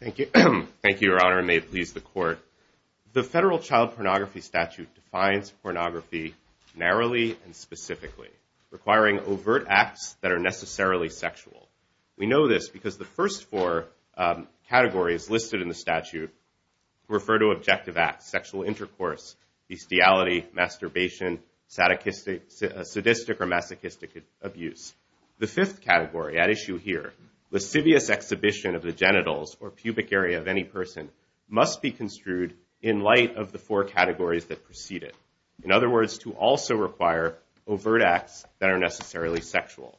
The Federal Child Pornography Statute defines pornography narrowly and specifically, requiring overt acts that are necessarily sexual. We know this because the first four categories listed in the statute refer to objective acts, sexual intercourse, bestiality, masturbation, sadistic or masochistic abuse. The fifth category at issue here, lascivious exhibition of the genitals or pubic area of any person, must be construed in light of the four categories that precede it. In other words, to also require overt acts that are necessarily sexual.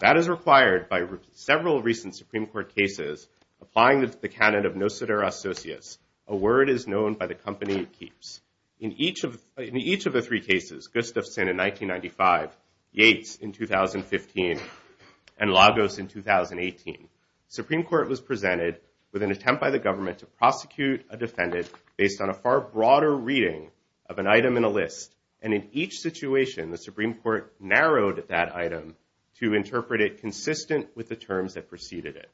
That is required by several recent Supreme Court cases applying the canon of no seder associates. A word is known by the company it keeps. In each of the three cases, Gustafson in 1995, Yates in 2015, and Lagos in 2018, Supreme Court was presented with an attempt by the government to prosecute a defendant based on a far broader reading of an item in a list. And in each situation, the Supreme Court narrowed that item to interpret it consistent with the terms that preceded it.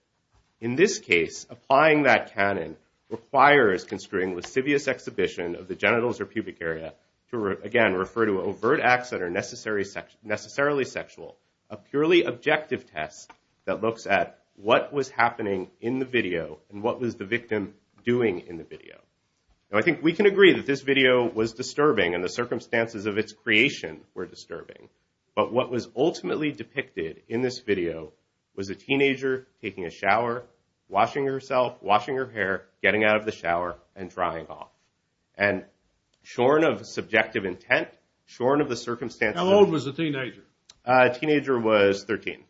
In this case, applying that canon requires construing lascivious exhibition of the genitals or pubic area to, again, refer to overt acts that are necessarily sexual. A purely objective test that looks at what was happening in the video and what was the victim doing in the video. Now, I think we can agree that this video was disturbing and the circumstances of its creation were disturbing. But what was getting out of the shower and drying off. And shorn of subjective intent, shorn of the circumstances. How old was the teenager? A teenager was 13.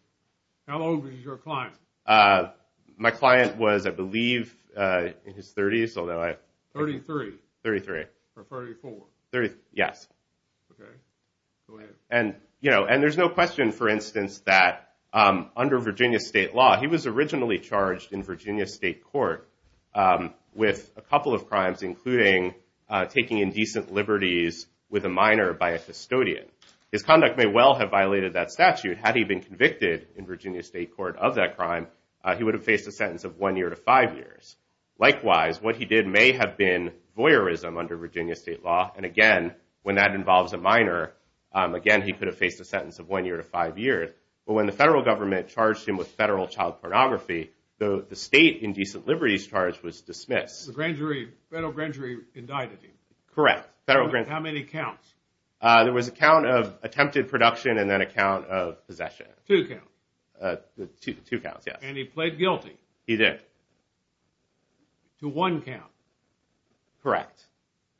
How old was your client? My client was, I believe, in his 30s, although I... 33. 33. Or 34. Yes. Okay. Go ahead. And, you know, and there's no question, for instance, that under Virginia state law, he was originally charged in Virginia state court with a couple of crimes, including taking indecent liberties with a minor by a custodian. His conduct may well have violated that statute. Had he been convicted in Virginia state court of that crime, he would have faced a sentence of one year to five years. Likewise, what he did may have been voyeurism under Virginia state law. And again, when that involves a minor, again, he could have faced a sentence of one year to five years. But when the federal government charged him with federal child pornography, the state indecent liberties charge was dismissed. The grand jury, federal grand jury indicted him. Correct. Federal grand jury. How many counts? There was a count of attempted production and then a count of possession. Two counts. Two counts, yes. And he pled guilty. He did. To one count. Correct.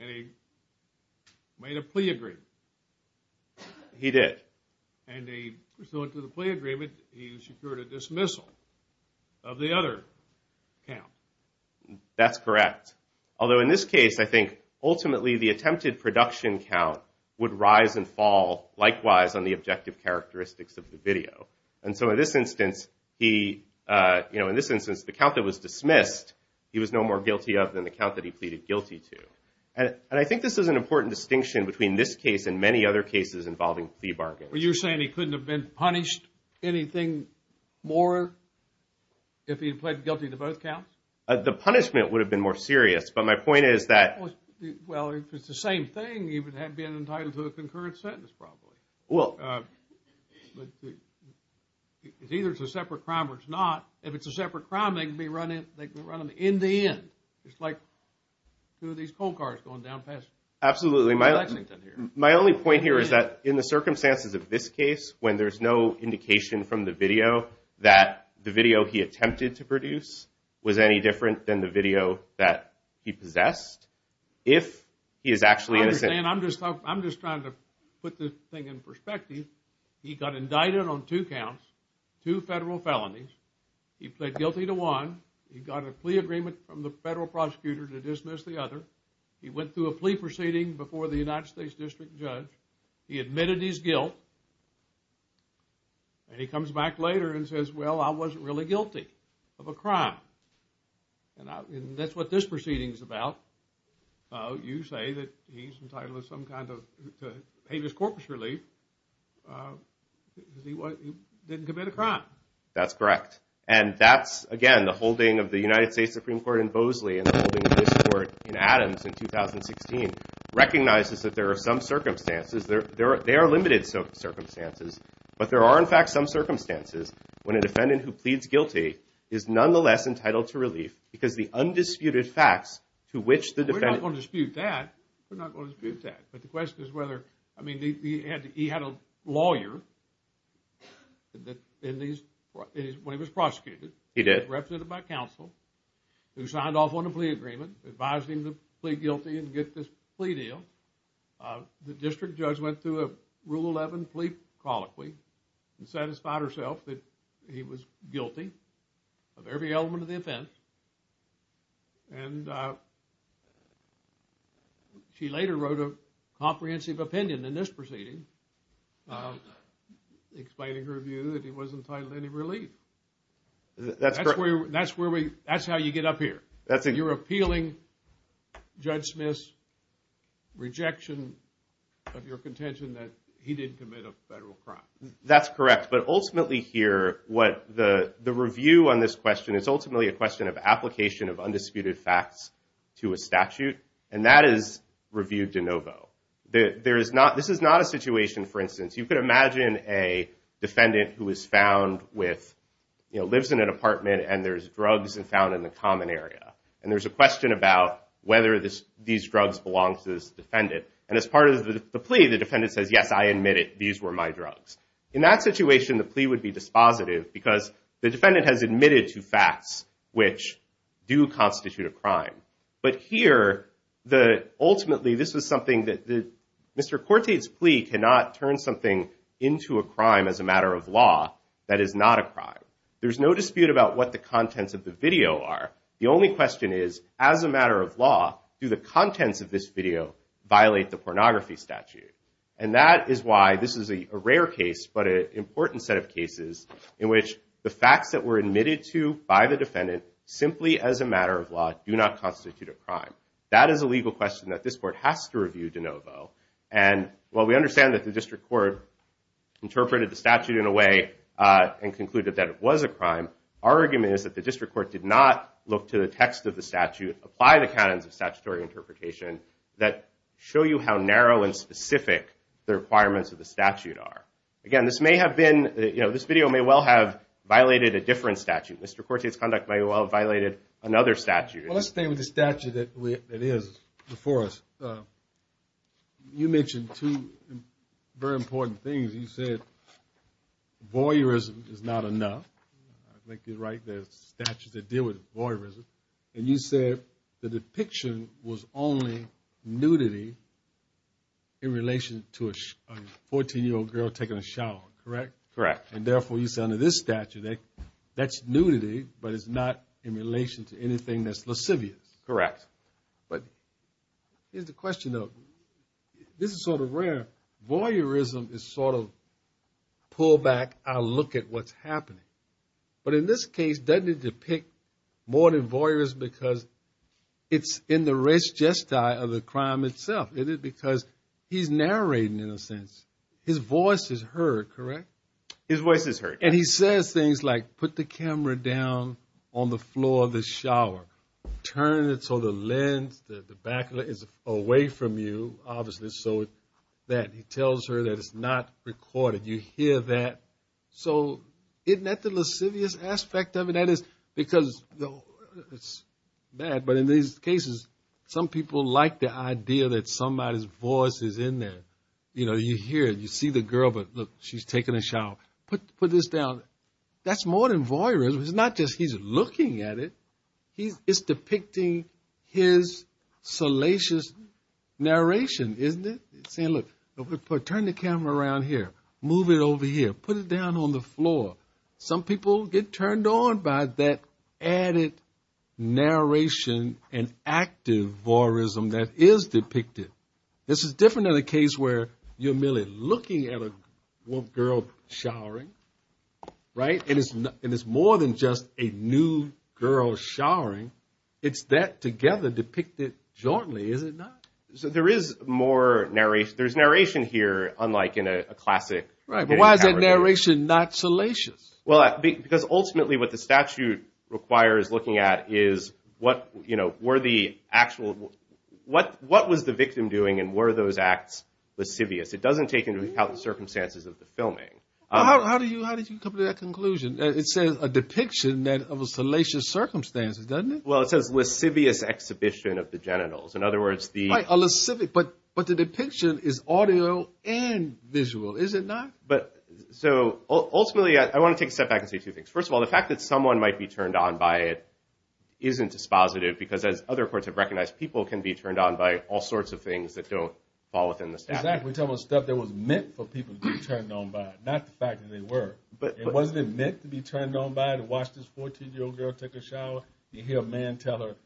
And he made a plea agreement. He did. And pursuant to the plea agreement, he secured a dismissal of the other count. That's correct. Although in this case, I think ultimately the attempted production count would rise and fall likewise on the objective characteristics of the video. And so in this instance, the count that was dismissed, he was no more guilty of than the count that he pleaded guilty to. And I think this is an important distinction between this case and many other cases involving fee bargains. Well, you're saying he couldn't have been punished anything more if he had pled guilty to both counts? The punishment would have been more serious. But my point is that... Well, if it's the same thing, he would have been entitled to a concurrent sentence probably. Well... Either it's a separate crime or it's not. If it's a separate crime, they can be run in the end. It's like two of these coal cars going down pass. Absolutely. My only point here is that in the circumstances of this case, when there's no indication from the video that the video he attempted to produce was any different than the video that he possessed, if he is actually innocent... I'm just trying to put this thing in perspective. He got indicted on two counts, two federal felonies. He pled guilty to one. He got a plea agreement from the federal prosecutor to dismiss the other. He went through a plea proceeding before the United States District Judge. He admitted his guilt. And he comes back later and says, well, I wasn't really guilty of a crime. And that's what this proceeding is about. You say that he's entitled to some kind of habeas corpus relief because he didn't commit a crime. That's correct. And that's, again, the holding of the United States Supreme Court in Bosley and the holding of this court in Adams in 2016 recognizes that there are some circumstances. There are limited circumstances. But there are, in fact, some circumstances when a defendant who pleads guilty is nonetheless entitled to relief because the undisputed facts to which the defendant... We're not going to dispute that. We're not going to dispute that. But the question is whether... I mean, he had a lawyer when he was prosecuted. He did. He was represented by counsel who signed off on a plea agreement, advised him to plead guilty and get this plea deal. The district judge went through a Rule 11 plea colloquy and satisfied herself that he was guilty of every element of the offense. And she later wrote a comprehensive opinion in this proceeding, explaining her view that he wasn't entitled to any relief. That's correct. That's where we... That's how you get up here. You're appealing Judge Smith's rejection of your contention that he didn't commit a federal crime. That's correct. But ultimately here, what the review on this question, it's ultimately a question of application of undisputed facts to a statute. And that is reviewed de novo. This is not a situation, for instance, you could imagine a defendant who is found with... You know, lives in an apartment and there's drugs found in the common area. And there's a question about whether these drugs belong to this defendant. And as part of the plea, the defendant says, yes, I admit it. These were my drugs. In that situation, the plea would be dispositive because the defendant has admitted to facts which do constitute a crime. But here, the... Mr. Corte's plea cannot turn something into a crime as a matter of law that is not a crime. There's no dispute about what the contents of the video are. The only question is, as a matter of law, do the contents of this video violate the pornography statute? And that is why this is a rare case, but an important set of cases in which the facts that were admitted to by the defendant, simply as a matter of law, do not constitute a crime. That is a legal question that this court has to review de novo. And while we understand that the district court interpreted the statute in a way and concluded that it was a crime, our argument is that the district court did not look to the text of the statute, apply the canons of statutory interpretation that show you how narrow and specific the requirements of the statute are. Again, this may have been, you know, this video may well have violated a different statute. Mr. Corte's conduct may well have violated another statute. Well, let's stay with the statute that is before us. You mentioned two very important things. You said voyeurism is not enough. I think you're right. There's statutes that deal with voyeurism. And you said the depiction was only nudity in relation to a 14-year-old girl taking a shower, correct? Correct. And therefore, you said under this statute, that's nudity, but it's not in relation to anything that's lascivious. Correct. But here's the question though. This is sort of rare. Voyeurism is sort of pull back, I'll look at what's happening. But in this case, doesn't it depict more than voyeurism because it's in the race gestile of the crime itself. Is it because he's narrating in a sense, his voice is heard, correct? His voice is heard. And he says things like, put the camera down on the floor of the shower. Turn it so the lens, the back is away from you, obviously. So that he tells her that it's not recorded. You hear that. So isn't that the lascivious aspect of it? That is because it's bad. But in these cases, some people like the idea that somebody's voice is in there. You hear it. You see the girl, but look, she's taking a shower. Put this down. That's more than voyeurism. It's not just he's looking at it. It's depicting his salacious narration, isn't it? Saying, look, turn the camera around here. Move it over here. Put it down on the floor. Some people get turned on by that added narration and active voyeurism that is depicted. This is different than a case where you're merely looking at a girl showering, right? And it's more than just a new girl showering. It's that together depicted jointly, is it not? So there is more narration. There's narration here, unlike in a classic. Right. But why is that narration not salacious? Well, because ultimately what the statute requires looking at is what, you know, the actual, what was the victim doing? And were those acts lascivious? It doesn't take into account the circumstances of the filming. How do you, how did you come to that conclusion? It says a depiction that of a salacious circumstances, doesn't it? Well, it says lascivious exhibition of the genitals. In other words, the... Right, a lascivious, but the depiction is audio and visual, is it not? But so ultimately, I want to take a step back and say two things. First of all, the fact that someone might be turned on by it isn't dispositive because as other courts have recognized, people can be turned on by all sorts of things that don't fall within the statute. Exactly. We're talking about stuff that was meant for people to be turned on by it, not the fact that they were. But wasn't it meant to be turned on by it? To watch this 14-year-old girl take a shower. You hear a man tell her,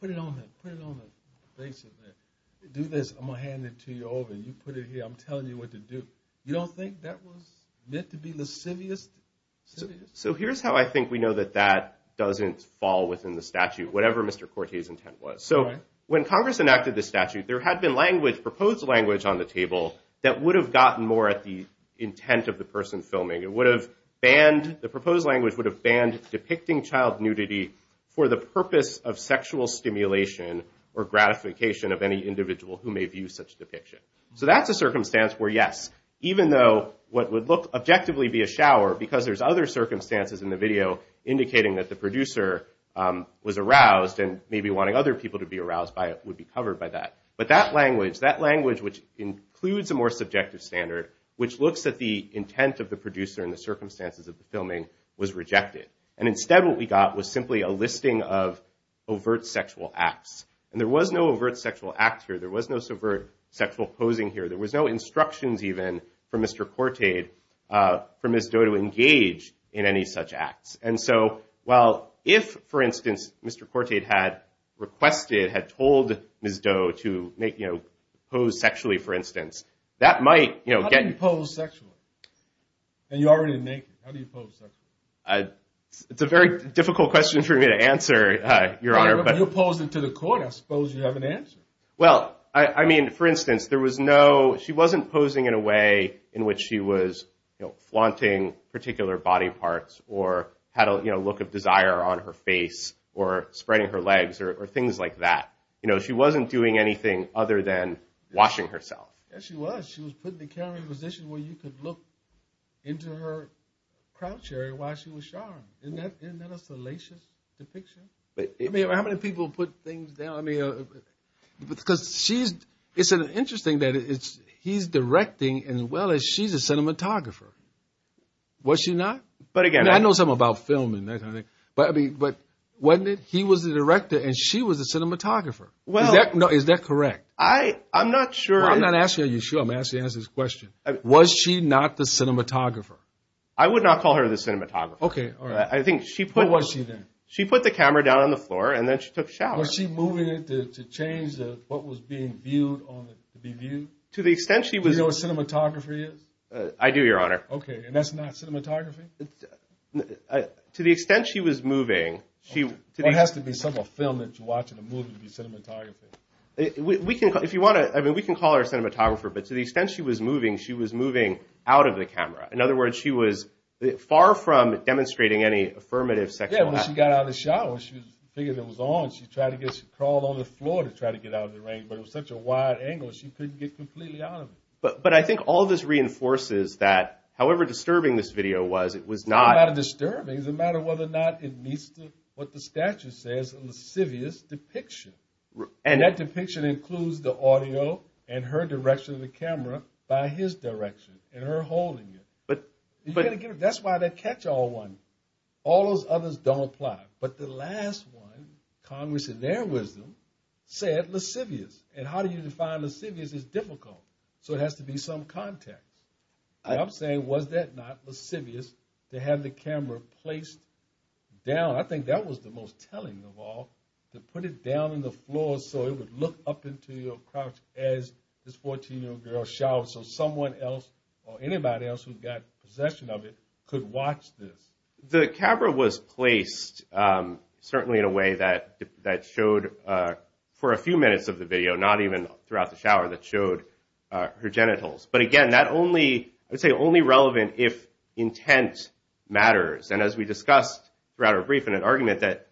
put it on there, put it on the face of it. Do this. I'm going to hand it to you over and you put it here. I'm telling you what to do. You don't think that was meant to be lascivious? So here's how I think we know that that doesn't fall within the statute, whatever Mr. Corte's intent was. So when Congress enacted the statute, there had been language, proposed language on the table that would have gotten more at the intent of the person filming. It would have banned... The proposed language would have banned depicting child nudity for the purpose of sexual stimulation or gratification of any individual who may view such depiction. So that's a circumstance where yes, even though what would look objectively be a shower because there's other circumstances in the video indicating that the producer was aroused and maybe wanting other people to be aroused by it would be covered by that. But that language, that language which includes a more subjective standard, which looks at the intent of the producer and the circumstances of the filming was rejected. And instead what we got was simply a listing of overt sexual acts. And there was no overt sexual act here. There was no overt sexual posing here. There was no instructions even from Mr. Corte for Ms. Doe to engage in any such acts. And so while if, for instance, Mr. Corte had requested, had told Ms. Doe to make, you know, pose sexually, for instance, that might, you know, get... How do you pose sexually? And you're already naked. How do you pose sexually? It's a very difficult question for me to answer, Your Honor. But you're posing to the court. I suppose you have an answer. Well, I mean, for instance, there was no... She wasn't posing in a way in which she was, you know, flaunting particular body parts or had a, you know, look of desire on her face or spreading her legs or things like that. You know, she wasn't doing anything other than washing herself. Yes, she was. She was putting the camera in a position where you could look into her crotch area while she was showering. Isn't that a salacious depiction? I mean, how many people put things down? Because she's... It's interesting that he's directing as well as she's a cinematographer. Was she not? But again... I know something about film and that kind of thing. But I mean, wasn't it? He was the director and she was a cinematographer. Is that correct? I'm not sure. Well, I'm not asking are you sure. I'm asking you to answer this question. Was she not the cinematographer? I would not call her the cinematographer. Okay, all right. I think she put... What was she then? She put the camera down on the floor and then she took a shower. Was she moving it to change what was being viewed to be viewed? To the extent she was... Do you know what cinematography is? I do, Your Honor. Okay, and that's not cinematography? To the extent she was moving, she... It has to be some film that you're watching a movie to be cinematography. We can call her a cinematographer. But to the extent she was moving, she was moving out of the camera. In other words, she was far from demonstrating any affirmative sexual act. Yeah, when she got out of the shower, she figured it was on. She tried to get... She crawled on the floor to try to get out of the rain. But it was such a wide angle, she couldn't get completely out of it. But I think all this reinforces that however disturbing this video was, it was not... It's not about disturbing. It's a matter of whether or not it meets what the statute says, a lascivious depiction. And that depiction includes the audio and her direction of the camera by his direction and her holding it. That's why that catch-all one, all those others don't apply. But the last one, Congress in their wisdom, said lascivious. And how do you define lascivious is difficult. So it has to be some context. And I'm saying, was that not lascivious to have the camera placed down? I think that was the most telling of all, to put it down on the floor so it would look up into your crotch as this 14-year-old girl showers. So someone else or anybody else who got possession of it could watch this. The camera was placed certainly in a way that showed for a few minutes of the video, not even throughout the shower, that showed her genitals. But again, that only... I would say only relevant if intent matters. And as we discussed throughout our brief in an argument that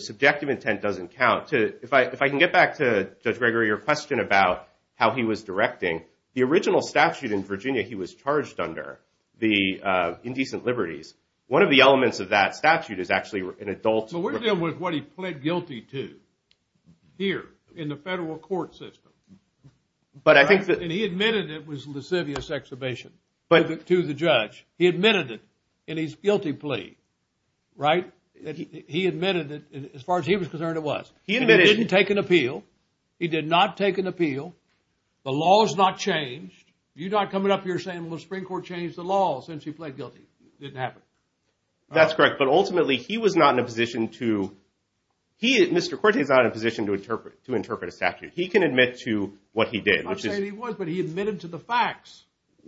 subjective intent doesn't count. If I can get back to Judge Gregory, your question about how he was directing. The original statute in Virginia, he was charged under the indecent liberties. One of the elements of that statute is actually an adult... But we're dealing with what he pled guilty to here in the federal court system. But I think that... And he admitted it was a lascivious exhibition to the judge. He admitted it in his guilty plea, right? He admitted it as far as he was concerned it was. He didn't take an appeal. He did not take an appeal. The law has not changed. You're not coming up here saying, well, the Supreme Court changed the law since he pled guilty. It didn't happen. That's correct. But ultimately, he was not in a position to... Mr. Cortes is not in a position to interpret a statute. He can admit to what he did. I'm not saying he was, but he admitted to the facts.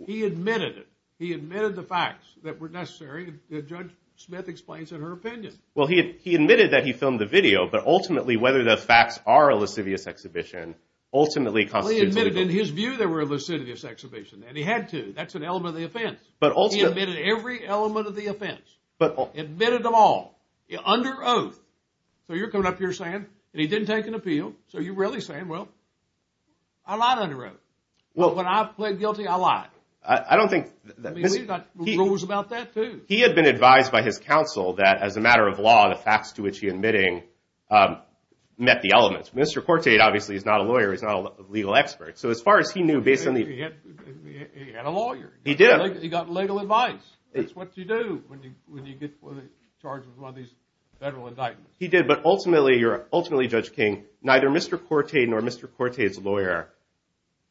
He admitted it. He admitted the facts that were necessary. Judge Smith explains in her opinion. Well, he admitted that he filmed the video. But ultimately, whether the facts are a lascivious exhibition ultimately constitutes... He admitted in his view they were a lascivious exhibition. And he had to. That's an element of the offense. But ultimately... He admitted every element of the offense. But... Admitted them all. Under oath. So you're coming up here saying, and he didn't take an appeal. So you're really saying, well, I lied under oath. Well, when I pled guilty, I lied. I don't think... I mean, we've got rules about that too. He had been advised by his counsel that as a matter of law, the facts to which he admitting met the elements. Mr. Cortay, obviously, is not a lawyer. He's not a legal expert. So as far as he knew, based on the... He had a lawyer. He did. He got legal advice. It's what you do when you get charged with one of these federal indictments. He did. But ultimately, Judge King, neither Mr. Cortay nor Mr. Cortay's lawyer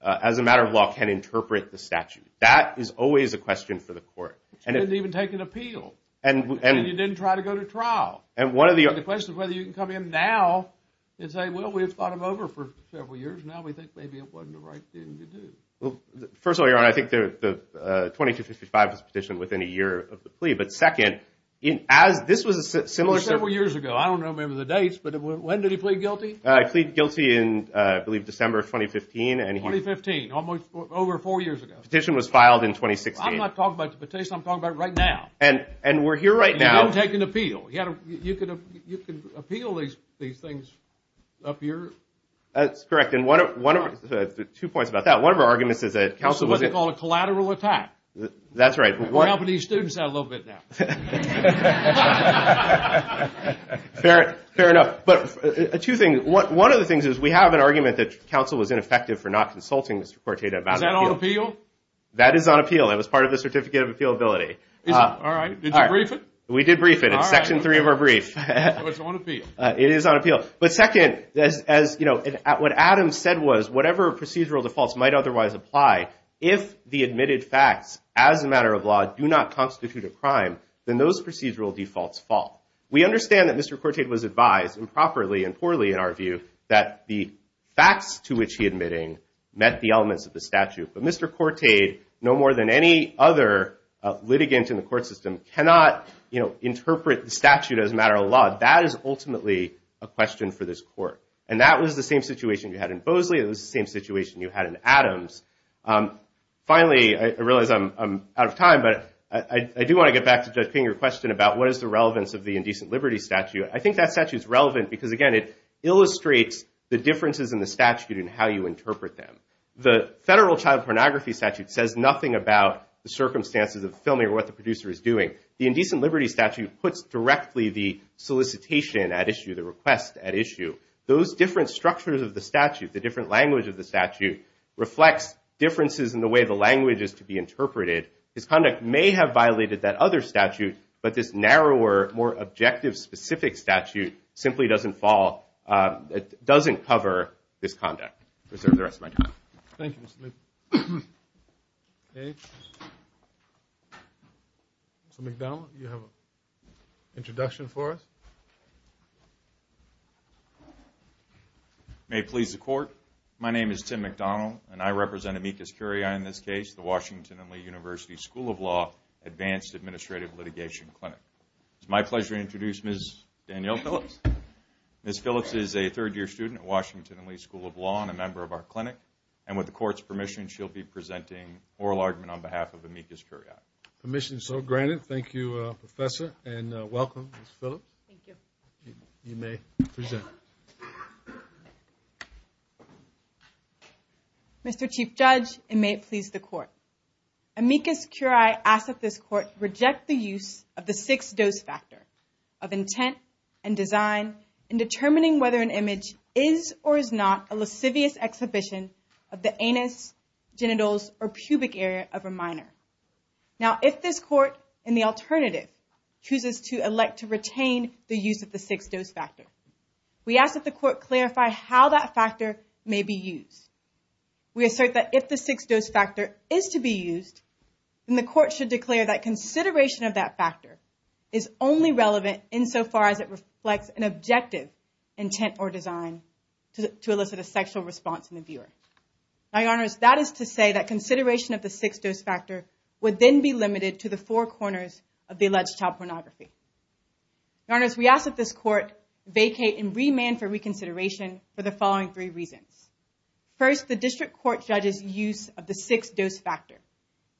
as a matter of law can interpret the statute. That is always a question for the court. He didn't even take an appeal. And... And he didn't try to go to trial. And one of the... And the question of whether you can come in now and say, well, we've fought him over for several years. Now we think maybe it wasn't the right thing to do. Well, first of all, Your Honor, I think the 2255 was petitioned within a year of the plea. But second, as this was a similar... Several years ago. I don't remember the dates. But when did he plead guilty? I plead guilty in, I believe, December of 2015. And he... 2015. Almost over four years ago. Petition was filed in 2016. I'm not talking about the petition. I'm talking about right now. And we're here right now. He didn't take an appeal. You could appeal these things up here. That's correct. And one of the... Two points about that. One of our arguments is that counsel was... This is what they call a collateral attack. That's right. We're helping these students out a little bit now. Fair. Fair enough. But two things. One of the things is we have an argument that counsel was ineffective for not consulting Mr. Corteda about an appeal. Is that on appeal? That is on appeal. It was part of the certificate of appealability. Is it? All right. Did you brief it? We did brief it. Section three of our brief. It's on appeal. It is on appeal. But second, what Adam said was whatever procedural defaults might otherwise apply, if the admitted facts as a matter of law do not constitute a crime, then those procedural defaults fall. We understand that Mr. Corteda was advised, improperly and poorly in our view, that the facts to which he admitting met the elements of the statute. But Mr. Corteda, no more than any other litigant in the court system, cannot interpret the statute as a matter of law. That is ultimately a question for this court. And that was the same situation you had in Bosley. It was the same situation you had in Adams. Finally, I realize I'm out of time. But I do want to get back to Judge King, your question about what is the relevance of the indecent liberty statute. I think that statute is relevant because, again, it illustrates the differences in the statute and how you interpret them. The federal child pornography statute says nothing about the circumstances of filming or what the producer is doing. The indecent liberty statute puts directly the solicitation at issue, the request at issue. Those different structures of the statute, the different language of the statute, reflects differences in the way the language is to be interpreted. His conduct may have violated that other statute, but this narrower, more objective, specific statute simply doesn't fall, doesn't cover this conduct. Reserve the rest of my time. Thank you, Mr. McDonnell. You have an introduction for us? May it please the court. My name is Tim McDonnell, and I represent Amicus Curiae in this case, the Washington and Lee University School of Law Advanced Administrative Litigation Clinic. It's my pleasure to introduce Ms. Danielle Phillips. Ms. Phillips is a third year student at Washington and Lee School of Law and a member of our clinic. With the court's permission, she'll be presenting oral argument on behalf of Amicus Curiae. Permission is so granted. Thank you, Professor, and welcome, Ms. Phillips. Thank you. You may present. Mr. Chief Judge, and may it please the court. Amicus Curiae asks that this court reject the use of the six-dose factor of intent and design in determining whether an image is or is not a lascivious exhibition of the anus, genitals, or pubic area of a minor. Now, if this court, in the alternative, chooses to elect to retain the use of the six-dose factor, we ask that the court clarify how that factor may be used. We assert that if the six-dose factor is to be used, then the court should declare that consideration of that factor is only relevant insofar as it reflects an objective intent or design to elicit a sexual response in the viewer. Your Honors, that is to say that consideration of the six-dose factor would then be limited to the four corners of the alleged child pornography. Your Honors, we ask that this court vacate and remand for reconsideration for the following three reasons. First, the district court judge's use of the six-dose factor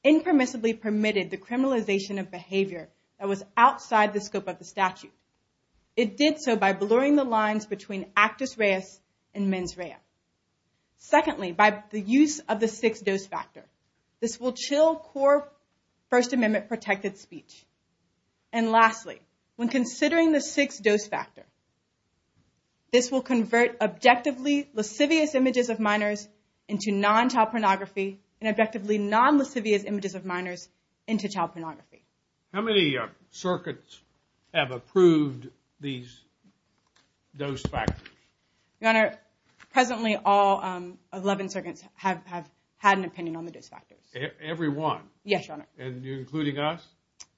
impermissibly permitted the criminalization of behavior that was outside the scope of the statute. It did so by blurring the lines between actus reus and mens rea. Secondly, by the use of the six-dose factor, this will chill core First Amendment protected speech. And lastly, when considering the six-dose factor, this will convert objectively lascivious images of minors into non-child pornography and objectively non-lascivious images of minors into child pornography. How many circuits have approved these dose factors? Your Honor, presently all 11 circuits have had an opinion on the dose factors. Every one? Yes, Your Honor. And you're including us?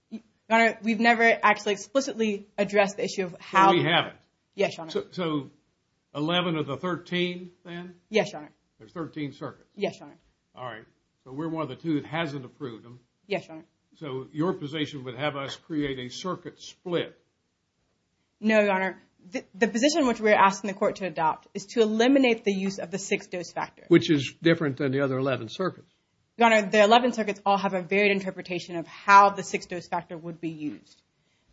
Your Honor, we've never actually explicitly addressed the issue of how... So we haven't? Yes, Your Honor. So 11 of the 13 then? Yes, Your Honor. There's 13 circuits? Yes, Your Honor. All right. So we're one of the two that hasn't approved them. Yes, Your Honor. So your position would have us create a circuit split? No, Your Honor. The position which we're asking the court to adopt is to eliminate the use of the six-dose factor. Which is different than the other 11 circuits? Your Honor, the 11 circuits all have a varied interpretation of how the six-dose factor would be used.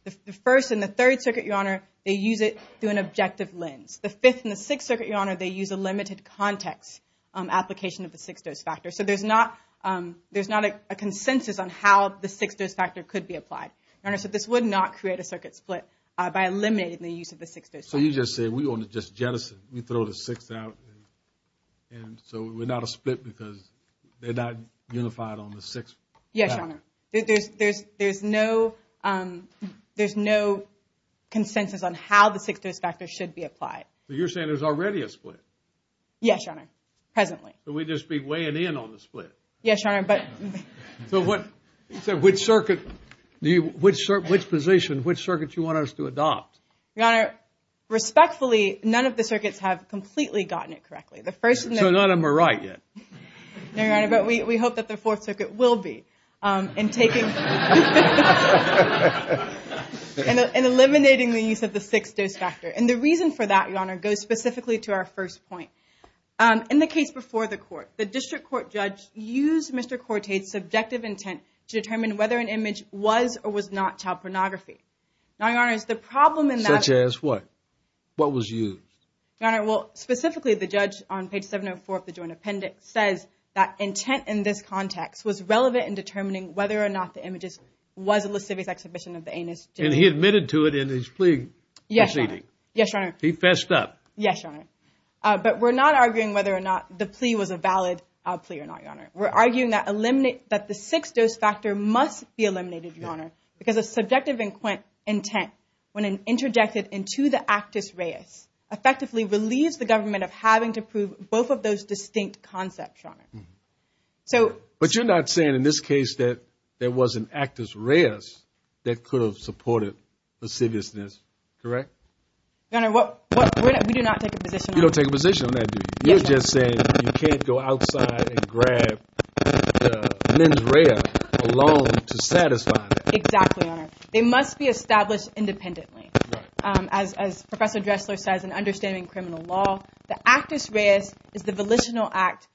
The first and the third circuit, Your Honor, they use it through an objective lens. The fifth and the sixth circuit, Your Honor, they use a limited context application of the six-dose factor. So there's not a consensus on how the six-dose factor could be applied. Your Honor, so this would not create a circuit split by eliminating the use of the six-dose factor. So you just said, we're going to just jettison. We throw the sixth out and so we're not a split because they're not unified on the sixth factor? Yes, Your Honor. There's no consensus on how the six-dose factor should be applied. So you're saying there's already a split? Yes, Your Honor. Presently. So we'd just be weighing in on the split? Yes, Your Honor. So which circuit, which position, which circuit do you want us to adopt? Your Honor, respectfully, none of the circuits have completely gotten it correctly. So none of them are right yet. No, Your Honor, but we hope that the fourth circuit will be in eliminating the use of the six-dose factor. And the reason for that, Your Honor, goes specifically to our first point. In the case before the court, the district court judge used Mr. Cortay's subjective intent to determine whether an image was or was not child pornography. Now, Your Honor, the problem in that... Such as what? What was used? Your Honor, well, specifically the judge on page 704 of the joint appendix says that intent in this context was relevant in determining whether or not the images was a lascivious exhibition of the anus. And he admitted to it in his plea proceeding? Yes, Your Honor. Yes, Your Honor. He fessed up? Yes, Your Honor. But we're not arguing whether or not the plea was a valid plea or not, Your Honor. We're arguing that the six-dose factor must be eliminated, Your Honor, because a subjective intent when interjected into the actus reus effectively relieves the government of having to prove both of those distinct concepts, Your Honor. So... But you're not saying in this case that there was an actus reus that could have supported lasciviousness, correct? Your Honor, we do not take a position on that. You don't take a position on that, do you? You're just saying you can't go outside and grab the mens rea along to satisfy that. Exactly, Your Honor. They must be established independently. As Professor Dressler says in Understanding Criminal Law, the actus reus is the volitional act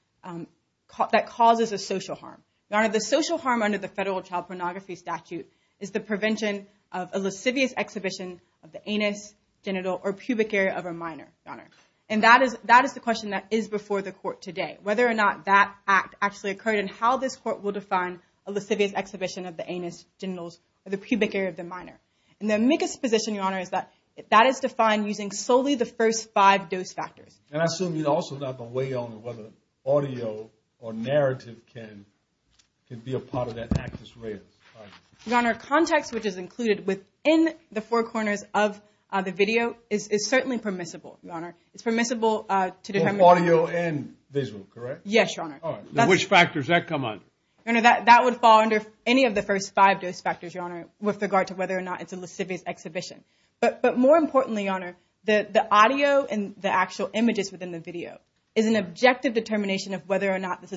that causes a social harm. Your Honor, the social harm under the Federal Child Pornography Statute is the prevention of a lascivious exhibition of the anus, genital, or pubic area of a minor, Your Honor. And that is the question that is before the court today, whether or not that act actually occurred and how this court will define a lascivious exhibition of the anus, genitals, or the pubic area of the minor. And the amicus position, Your Honor, is that that is defined using solely the first five-dose factors. And I assume you'd also have a way on whether audio or narrative can be a part of that actus reus, right? Your Honor, context which is included within the four corners of the video is certainly permissible, Your Honor. It's permissible to determine audio and visual, correct? Yes, Your Honor. Which factors does that come under? Your Honor, that would fall under any of the first five-dose factors, Your Honor, with regard to whether or not it's a lascivious exhibition. But more importantly, Your Honor, the audio and the actual images within the video is an objective determination of whether or not that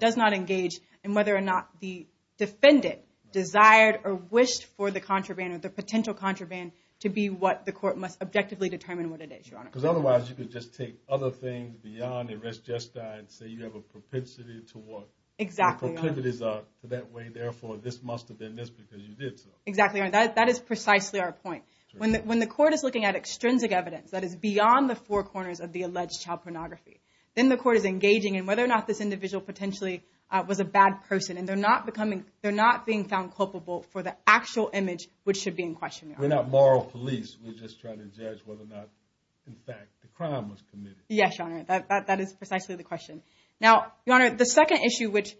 does not engage in whether or not the defendant desired or wished for the contraband or the potential contraband to be what the court must objectively determine what it is, Your Honor. Because otherwise, you could just take other things beyond the arrest gestine and say you have a propensity to what the proclivities are for that way. Therefore, this must have been this because you did so. Exactly, Your Honor. That is precisely our point. When the court is looking at extrinsic evidence that is beyond the four corners of the alleged child pornography, then the court is engaging in whether or not this individual potentially was a bad person. And they're not being found culpable for the actual image which should be in question, Your Honor. We're not moral police. We're just trying to judge whether or not, in fact, the crime was committed. Yes, Your Honor. That is precisely the question. Now, Your Honor, the second issue which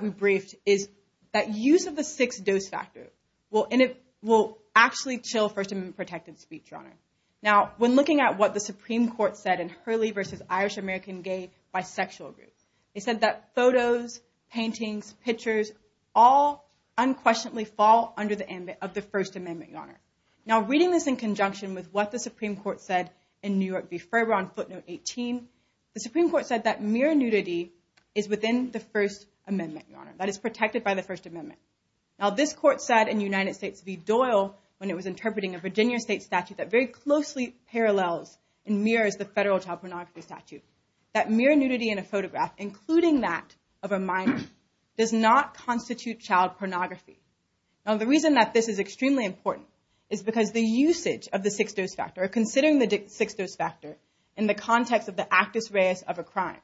we briefed is that use of the six-dose factor will actually chill First Amendment protected speech, Your Honor. Now, when looking at what the Supreme Court said in Hurley v. Irish American Gay Bisexual Group, they said that photos, paintings, pictures, all unquestionably fall under the ambit of the First Amendment, Your Honor. Now, reading this in conjunction with what the Supreme Court said in New York v. Ferber on footnote 18, the Supreme Court said that mere nudity is within the First Amendment, Your Honor. That is protected by the First Amendment. Now, this court said in United States v. Doyle when it was interpreting a Virginia state statute that very closely parallels and mirrors the federal child pornography statute, that mere nudity in a photograph, including that of a minor, does not constitute child pornography. Now, the reason that this is extremely important is because the usage of the six-dose factor, considering the six-dose factor in the context of the actus reus of a crime,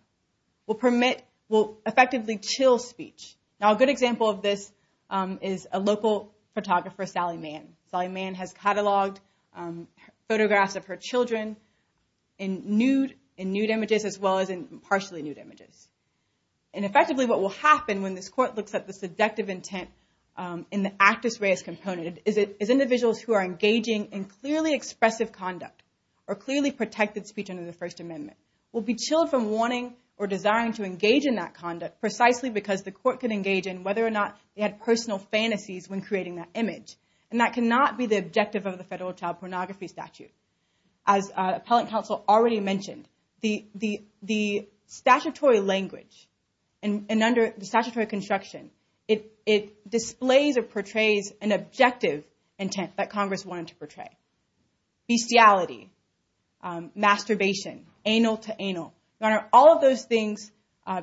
will permit, will effectively chill speech. Now, a good example of this is a local photographer, Sally Mann. Sally Mann has cataloged photographs of her children in nude images as well as in partially nude images. And effectively, what will happen when this court looks at the seductive intent in the actus reus component is individuals who are engaging in clearly expressive conduct or clearly protected speech under the First Amendment will be chilled from wanting or desiring to engage in that conduct precisely because the court can engage in whether or not they had personal fantasies when creating that image. And that cannot be the objective of the federal child pornography statute. As Appellant Counsel already mentioned, the statutory language and under the statutory construction, it displays or portrays an objective intent that Congress wanted to portray. Bestiality, masturbation, anal to anal, Your Honor, all of those things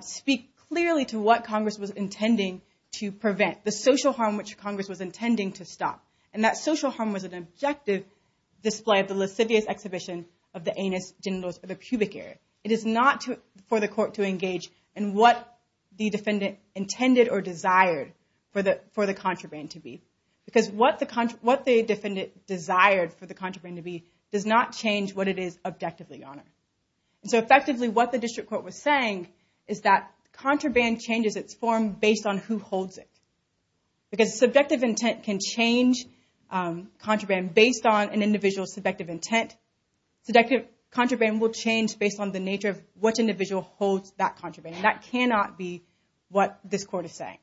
speak clearly to what Congress was intending to prevent, the social harm which Congress was intending to stop. And that social harm was an objective display of the lascivious exhibition of the anus, genitals, or the pubic area. It is not for the court to engage in what the defendant intended or desired for the contraband to be. Because what the defendant desired for the contraband to be does not change what it is objectively, Your Honor. So effectively, what the district court was saying is that contraband changes its form based on who holds it. Because subjective intent can change contraband based on an individual's subjective intent. Subjective contraband will change based on the nature of what individual holds that contraband. That cannot be what this court is saying.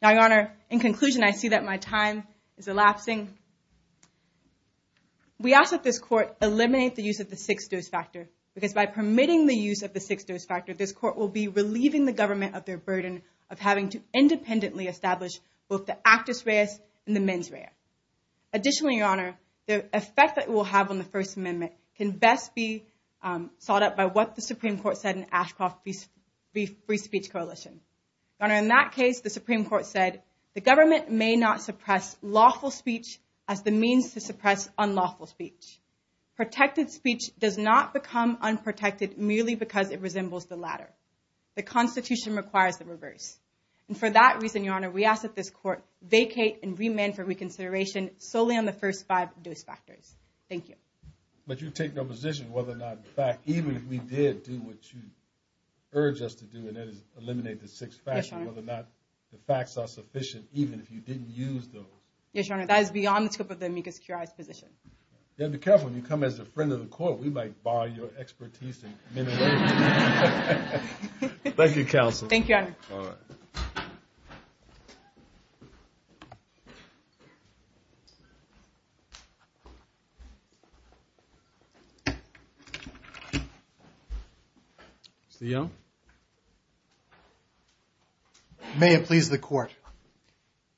Now, Your Honor, in conclusion, I see that my time is elapsing. We ask that this court eliminate the use of the six-dose factor because by permitting the use of the six-dose factor, this court will be relieving the government of their burden of having to independently establish both the actus reus and the mens rea. Additionally, Your Honor, the effect that it will have on the First Amendment can best be sought up by what the Supreme Court said in Ashcroft Free Speech Coalition. Your Honor, in that case, the Supreme Court said, the government may not suppress lawful speech as the means to suppress unlawful speech. Protected speech does not become unprotected merely because it resembles the latter. The Constitution requires the reverse. And for that reason, Your Honor, we ask that this court vacate and remand for reconsideration solely on the first five-dose factors. Thank you. But you take no position whether or not, in fact, even if we did do what you urge us to do, and that is eliminate the six-factor, whether or not the facts are sufficient even if you didn't use those. Yes, Your Honor, that is beyond the scope of the amicus curiae's position. You have to be careful. If you come as a friend of the court, we might borrow your expertise in many ways. Thank you, counsel. Thank you, Your Honor. All right. Mr. Young? May it please the Court.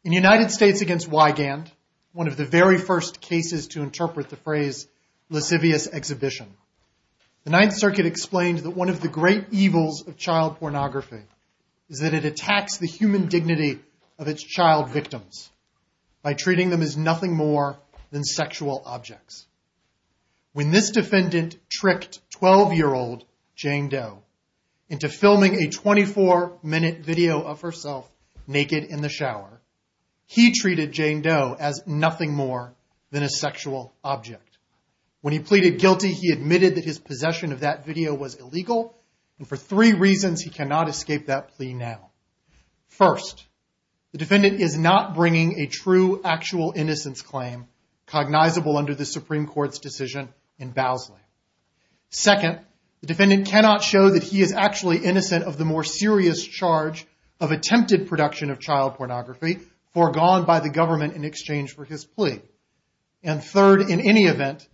In United States against Wygand, one of the very first cases to interpret the phrase lascivious exhibition, the Ninth Circuit explained that one of the great evils of child pornography is that it attacks the human dignity of its child victims by treating them as nothing more than sexual objects. When this defendant tricked 12-year-old Jane Doe into filming a 24-minute video of herself naked in the shower, he treated Jane Doe as nothing more than a sexual object. When he pleaded guilty, he admitted that his possession of that video was illegal, and for three reasons he cannot escape that plea now. First, the defendant is not bringing a true actual innocence claim cognizable under the Supreme Court's decision in Bowsley. Second, the defendant cannot show that he is actually innocent of the more serious charge of attempted production of child pornography foregone by the government in exchange for his plea. And third, in any event,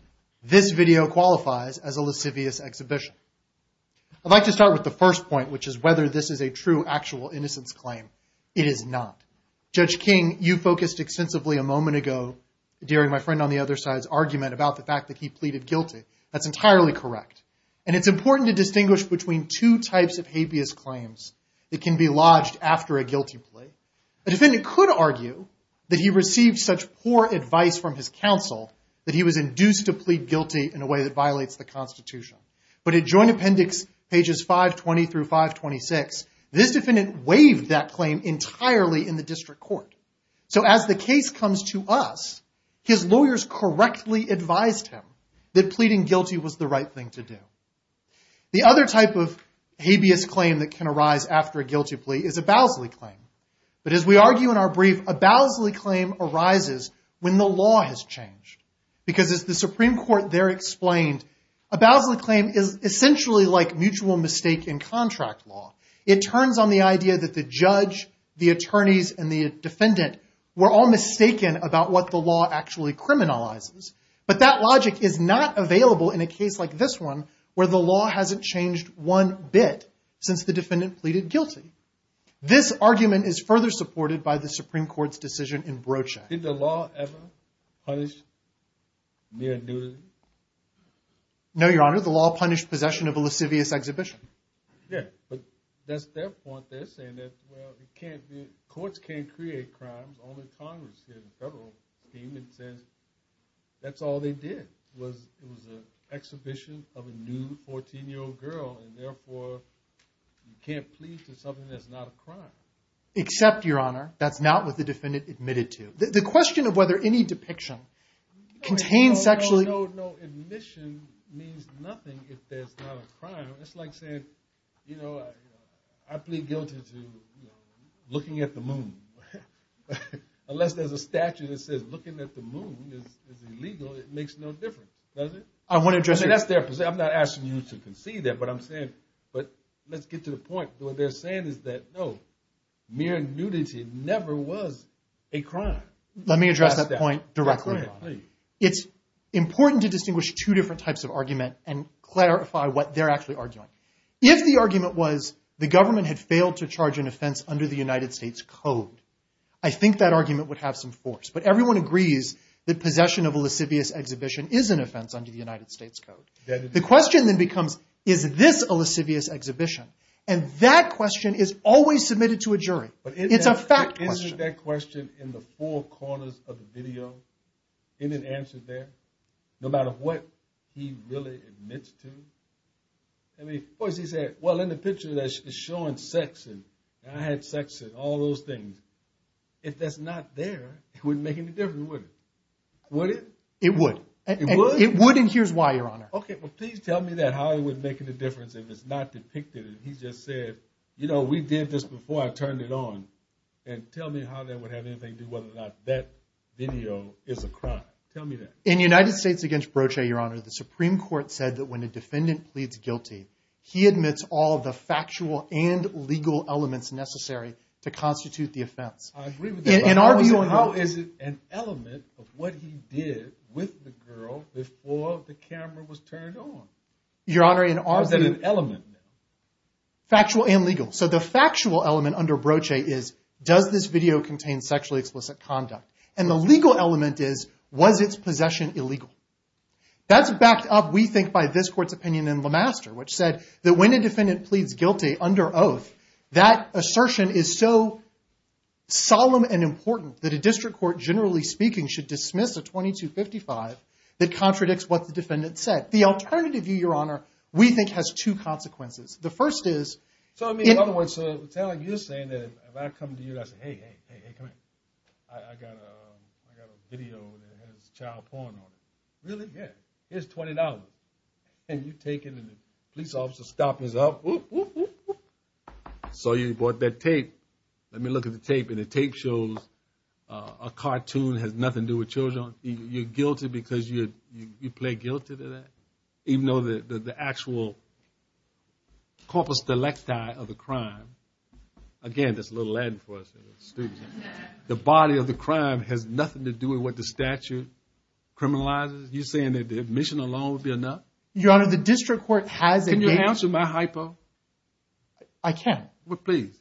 this video qualifies as a lascivious exhibition. I'd like to start with the first point, which is whether this is a true actual innocence claim. It is not. Judge King, you focused extensively a moment ago during my friend on the other side's argument about the fact that he pleaded guilty. That's entirely correct. And it's important to distinguish between two types of habeas claims that can be lodged after a guilty plea. A defendant could argue that he received such poor advice from his counsel that he was induced to plead guilty in a way that violates the Constitution. But in joint appendix pages 520 through 526, this defendant waived that claim entirely in the district court. So as the case comes to us, his lawyers correctly advised him that pleading guilty was the right thing to do. The other type of habeas claim that can arise after a guilty plea is a Bowsley claim. But as we argue in our brief, a Bowsley claim arises when the law has changed. Because as the Supreme Court there explained, a Bowsley claim is essentially like mutual mistake in contract law. It turns on the idea that the judge, the attorneys, and the defendant were all mistaken about what the law actually criminalizes. But that logic is not available in a case like this one, where the law hasn't changed one bit since the defendant pleaded guilty. This argument is further supported by the Supreme Court's decision in Brochette. Did the law ever punish mere nudity? No, Your Honor. The law punished possession of a lascivious exhibition. Yeah. But that's their point. They're saying that, well, courts can't create crimes. Only Congress here, the federal team, that says that's all they did was it was an exhibition of a nude 14-year-old girl. And therefore, you can't plead to something that's not a crime. Except, Your Honor, that's not what the defendant admitted to. The question of whether any depiction contains sexually No, no, no. Admission means nothing if there's not a crime. It's like saying, you know, I plead guilty to looking at the moon. Unless there's a statute that says looking at the moon is illegal, it makes no difference, does it? I wouldn't address it. That's their position. I'm not asking you to concede that. But I'm saying, but let's get to the point. What they're saying is that, no, mere nudity never was a crime. Let me address that point directly, Your Honor. It's important to distinguish two different types of argument and clarify what they're actually arguing. If the argument was the government had failed to charge an offense under the United States Code, I think that argument would have some force. But everyone agrees that possession of a lascivious exhibition is an offense under the United States Code. And that question is always submitted to a jury. It's a fact question. Isn't that question in the four corners of the video? Isn't it answered there? No matter what he really admits to? I mean, of course he said, well, in the picture that's showing sex, and I had sex, and all those things. If that's not there, it wouldn't make any difference, would it? Would it? It would. It would? It would, and here's why, Your Honor. OK, well, please tell me that. How it would make any difference if it's not depicted? He just said, you know, we did this before. I turned it on. And tell me how that would have anything to do with whether or not that video is a crime. Tell me that. In United States against Broche, Your Honor, the Supreme Court said that when a defendant pleads guilty, he admits all the factual and legal elements necessary to constitute the offense. I agree with that. In our view, Your Honor. How is it an element of what he did with the girl before the camera was turned on? Your Honor, in our view. Is it an element? Factual and legal. So the factual element under Broche is, does this video contain sexually explicit conduct? And the legal element is, was its possession illegal? That's backed up, we think, by this court's opinion in LeMaster, which said that when a defendant pleads guilty under oath, that assertion is so solemn and important that a district court, generally speaking, what the defendant said. The alternative view, Your Honor, we think has two consequences. The first is. So, I mean, in other words, you're saying that if I come to you and I say, hey, hey, hey, hey, come here. I got a video that has child porn on it. Really? Yeah. Here's $20 and you take it and the police officer stop his up, whoop, whoop, whoop, whoop. So you brought that tape. Let me look at the tape. And the tape shows a cartoon that has nothing to do with children. You're guilty because you played guilty to that. Even though the actual corpus delicti of the crime. Again, that's a little Latin for us. The body of the crime has nothing to do with what the statute criminalizes. You're saying that the admission alone would be enough? Your Honor, the district court has. Can you answer my hypo? I can. Well, please.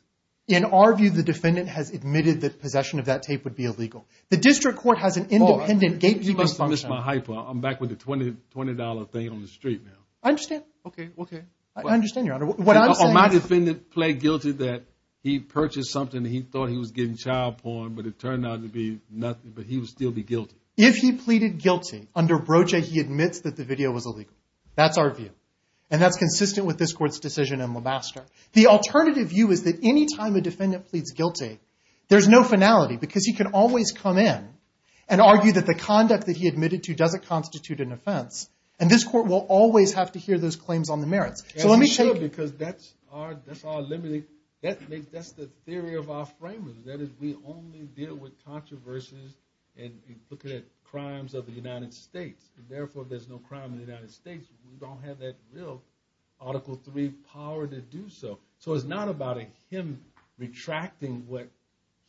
In our view, the defendant has admitted that possession of that tape would be illegal. The district court has an independent gatekeeping function. I'm back with the $20 thing on the street now. I understand. OK. OK. I understand, Your Honor. What I'm saying is- My defendant played guilty that he purchased something that he thought he was getting child porn, but it turned out to be nothing. But he would still be guilty. If he pleaded guilty, under Broche, he admits that the video was illegal. That's our view. And that's consistent with this court's decision in Lebaster. The alternative view is that any time a defendant pleads guilty, there's no finality. Because he can always come in and argue that the conduct that he admitted to doesn't constitute an offense. And this court will always have to hear those claims on the merits. So let me say- Because that's our limit. That's the theory of our framers. That is, we only deal with controversies and looking at crimes of the United States. Therefore, there's no crime in the United States. We don't have that real Article III power to do so. So it's not about him retracting what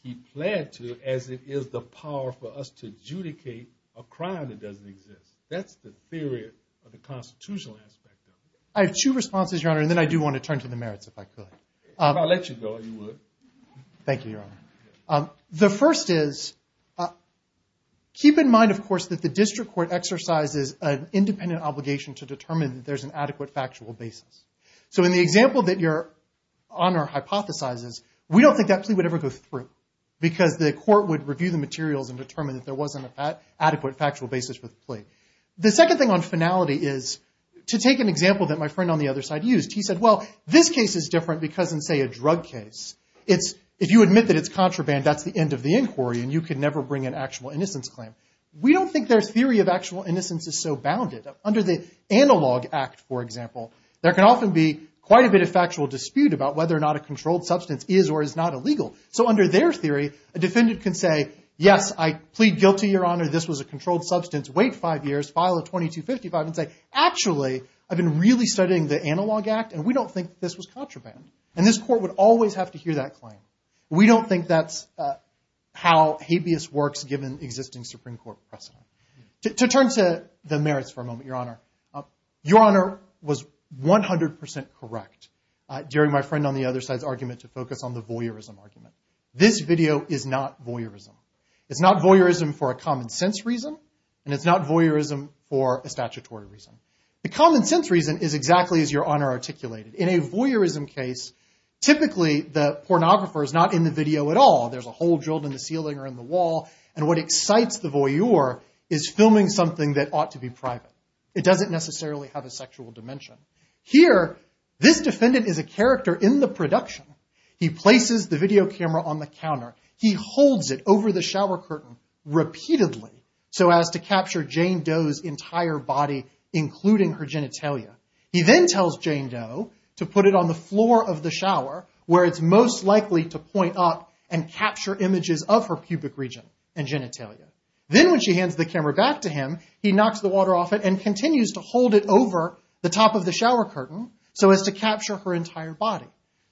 he pled to as it is the power for us to adjudicate a crime that doesn't exist. That's the theory of the constitutional aspect of it. I have two responses, Your Honor. And then I do want to turn to the merits, if I could. If I let you go, you would. Thank you, Your Honor. The first is, keep in mind, of course, that the district court exercises an independent obligation to determine that there's an adequate factual basis. So in the example that Your Honor hypothesizes, we don't think that plea would ever go through. Because the court would review the materials and determine that there wasn't an adequate factual basis for the plea. The second thing on finality is, to take an example that my friend on the other side used. He said, well, this case is different because in, say, a drug case, if you admit that it's contraband, that's the end of the inquiry. And you can never bring an actual innocence claim. We don't think their theory of actual innocence is so bounded. Under the Analog Act, for example, there can often be quite a bit of factual dispute about whether or not a controlled substance is or is not illegal. So under their theory, a defendant can say, yes, I plead guilty, Your Honor. This was a controlled substance. Wait five years. File a 2255 and say, actually, I've been really studying the Analog Act, and we don't think this was contraband. And this court would always have to hear that claim. We don't think that's how habeas works, given existing Supreme Court precedent. To turn to the merits for a moment, Your Honor. Your Honor was 100% correct during my friend on the other side's argument to focus on the voyeurism argument. This video is not voyeurism. It's not voyeurism for a common sense reason, and it's not voyeurism for a statutory reason. The common sense reason is exactly as Your Honor articulated. In a voyeurism case, typically, the pornographer is not in the video at all. There's a hole drilled in the ceiling or in the wall. And what excites the voyeur is filming something that ought to be private. It doesn't necessarily have a sexual dimension. Here, this defendant is a character in the production. He places the video camera on the counter. He holds it over the shower curtain repeatedly so as to capture Jane Doe's entire body, including her genitalia. He then tells Jane Doe to put it on the floor of the shower where it's most likely to point up and capture images of her pubic region and genitalia. Then when she hands the camera back to him, he knocks the water off it and continues to hold it over the top of the shower curtain so as to capture her entire body.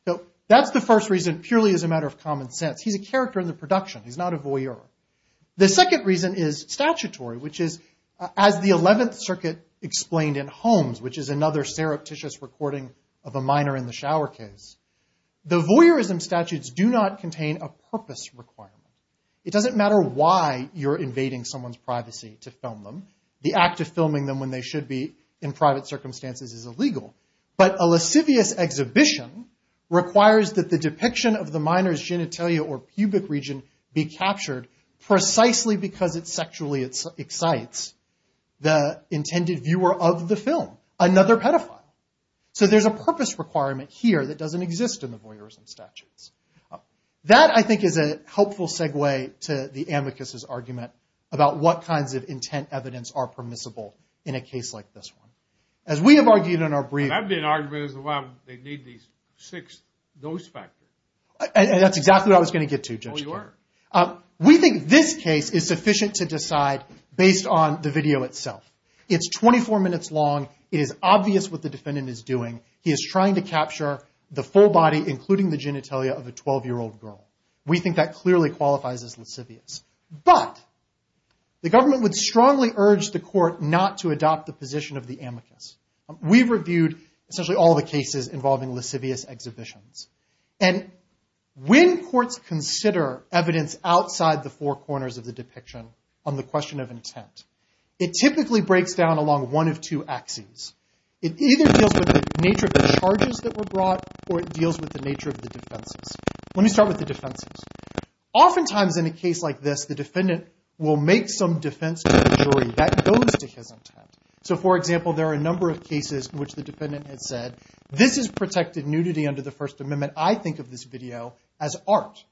So that's the first reason purely as a matter of common sense. He's a character in the production. He's not a voyeur. The second reason is statutory, which is as the 11th Circuit explained in Holmes, which is another surreptitious recording of a minor in the shower case. The voyeurism statutes do not contain a purpose requirement. It doesn't matter why you're invading someone's privacy to film them. The act of filming them when they should be in private circumstances is illegal. But a lascivious exhibition requires that the depiction of the minor's genitalia or pubic region be captured precisely because it sexually excites the intended viewer of the film, another pedophile. So there's a purpose requirement here that doesn't exist in the voyeurism statutes. That, I think, is a helpful segue to the amicus's argument about what kinds of intent evidence are permissible in a case like this one. As we have argued in our briefs. And I've been arguing as well, they need these six dose factors. That's exactly what I was going to get to, Judge King. Oh, you are? We think this case is sufficient to decide based on the video itself. It's 24 minutes long. It is obvious what the defendant is doing. He is trying to capture the full body, including the genitalia, of a 12-year-old girl. We think that clearly qualifies as lascivious. But the government would strongly urge the court not to adopt the position of the amicus. We've reviewed essentially all the cases involving lascivious exhibitions. And when courts consider evidence outside the four corners of the depiction on the question of intent, it typically breaks down along one of two axes. It either deals with the nature of the charges that were brought, or it deals with the nature of the defenses. Let me start with the defenses. Oftentimes in a case like this, the defendant will make some defense to the jury that goes to his intent. So for example, there are a number of cases in which the defendant has said, this is protective nudity under the First Amendment. I think of this video as art.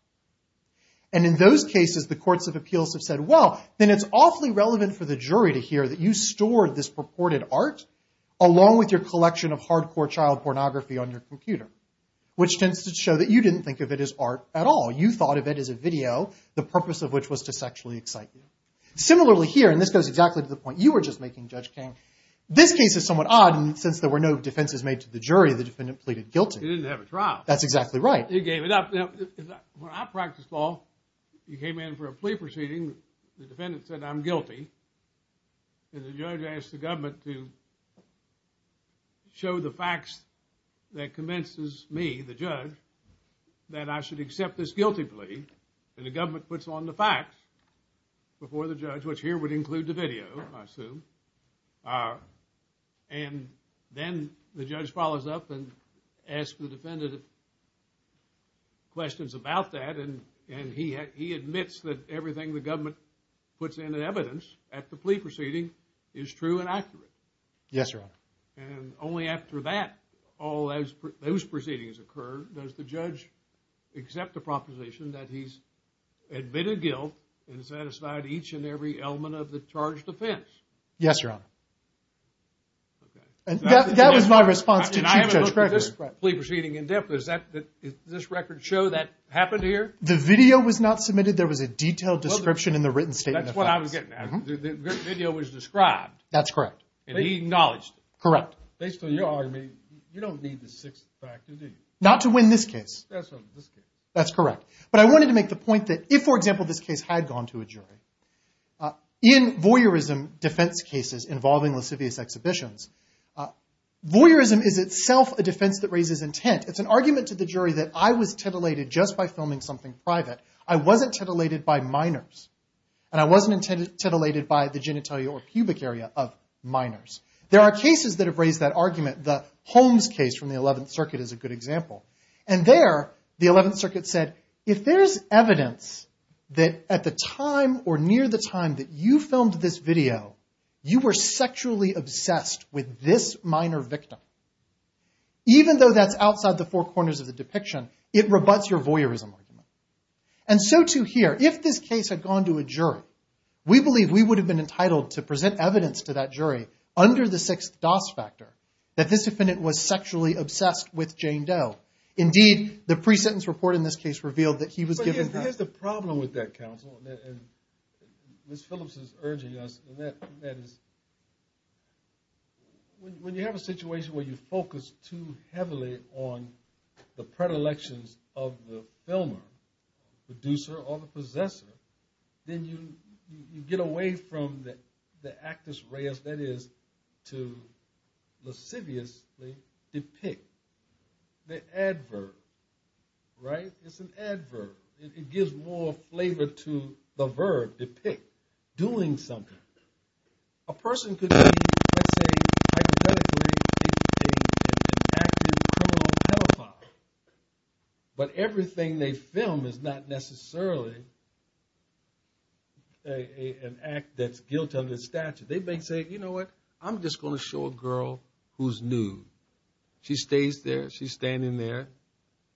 And in those cases, the courts of appeals have said, well, then it's awfully relevant for the jury to hear that you stored this purported art along with your collection of hardcore child pornography on your computer, which tends to show that you didn't think of it as art at all. You thought of it as a video, the purpose of which was to sexually excite you. Similarly here, and this goes exactly to the point you were just making, Judge King. This case is somewhat odd, and since there were no defenses made to the jury, the defendant pleaded guilty. He didn't have a trial. That's exactly right. He gave it up. When I practiced law, you came in for a plea proceeding. The defendant said, I'm guilty. And the judge asked the government to show the facts that convinces me, the judge, that I should accept this guilty plea. And the government puts on the facts before the judge, which here would include the video, I assume. And then the judge follows up and asks the defendant questions about that, and he admits that everything the government puts in evidence at the plea proceeding is true and accurate. Yes, Your Honor. And only after that, all those proceedings occur, does the judge accept the proposition that he's admitted guilt and satisfied each and every element of the charged offense? Yes, Your Honor. And that was my response to Chief Judge Gregory. I mean, I haven't looked at this plea proceeding in depth. Does this record show that happened here? The video was not submitted. There was a detailed description in the written statement. That's what I was getting at. The video was described. That's correct. And he acknowledged it. Correct. Based on your argument, you don't need the sixth factor, do you? Not to win this case. That's right, this case. That's correct. But I wanted to make the point that if, for example, this case had gone to a jury, in voyeurism defense cases involving lascivious exhibitions, voyeurism is itself a defense that raises intent. It's an argument to the jury that I was titillated just by filming something private. I wasn't titillated by minors. And I wasn't titillated by the genitalia or pubic area of minors. There are cases that have raised that argument. The Holmes case from the 11th Circuit is a good example. And there, the 11th Circuit said, if there's evidence that at the time or near the time that you filmed this video, you were sexually obsessed with this minor victim, even though that's outside the four corners of the depiction, it rebuts your voyeurism argument. And so, too, here, if this case had gone to a jury, we believe we would have been entitled to present evidence to that jury under the sixth DOS factor that this defendant was sexually obsessed with Jane Doe. Indeed, the pre-sentence report in this case revealed that he was given her. But here's the problem with that, counsel, and Ms. Phillips is urging us, and that is when you have a situation where you focus too heavily on the predilections of the filmer, producer, or the possessor, then you get away from the actus reus, that is, to lasciviously depict the adverb, right? It's an adverb. It gives more flavor to the verb, depict, doing something. A person could say, I'm not going to do anything, and act as a criminal pedophile. But everything they film is not necessarily an act that's guilt of the statute. They may say, you know what? I'm just going to show a girl who's new. She stays there. She's standing there,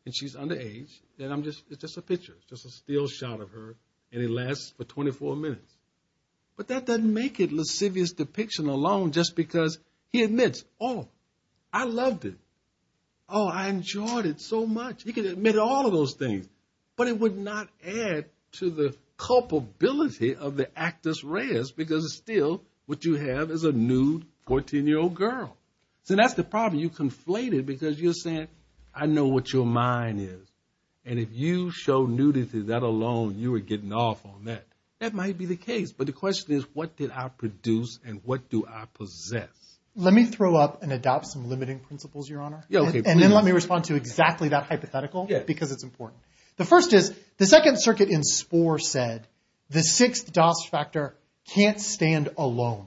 and she's underage, and it's just a picture, just a still shot of her, and it lasts for 24 minutes. But that doesn't make it lascivious depiction alone, just because he admits, oh, I loved it. Oh, I enjoyed it so much. He could admit all of those things, but it would not add to the culpability of the actus reus because it's still what you have is a nude 14-year-old girl. So that's the problem. You conflate it because you're saying, I know what your mind is. And if you show nudity, that alone, you are getting off on that. That might be the case. But the question is, what did I produce, and what do I possess? Let me throw up and adopt some limiting principles, Your Honor. And then let me respond to exactly that hypothetical, because it's important. The first is, the Second Circuit in Spore said, the Sixth Doss Factor can't stand alone.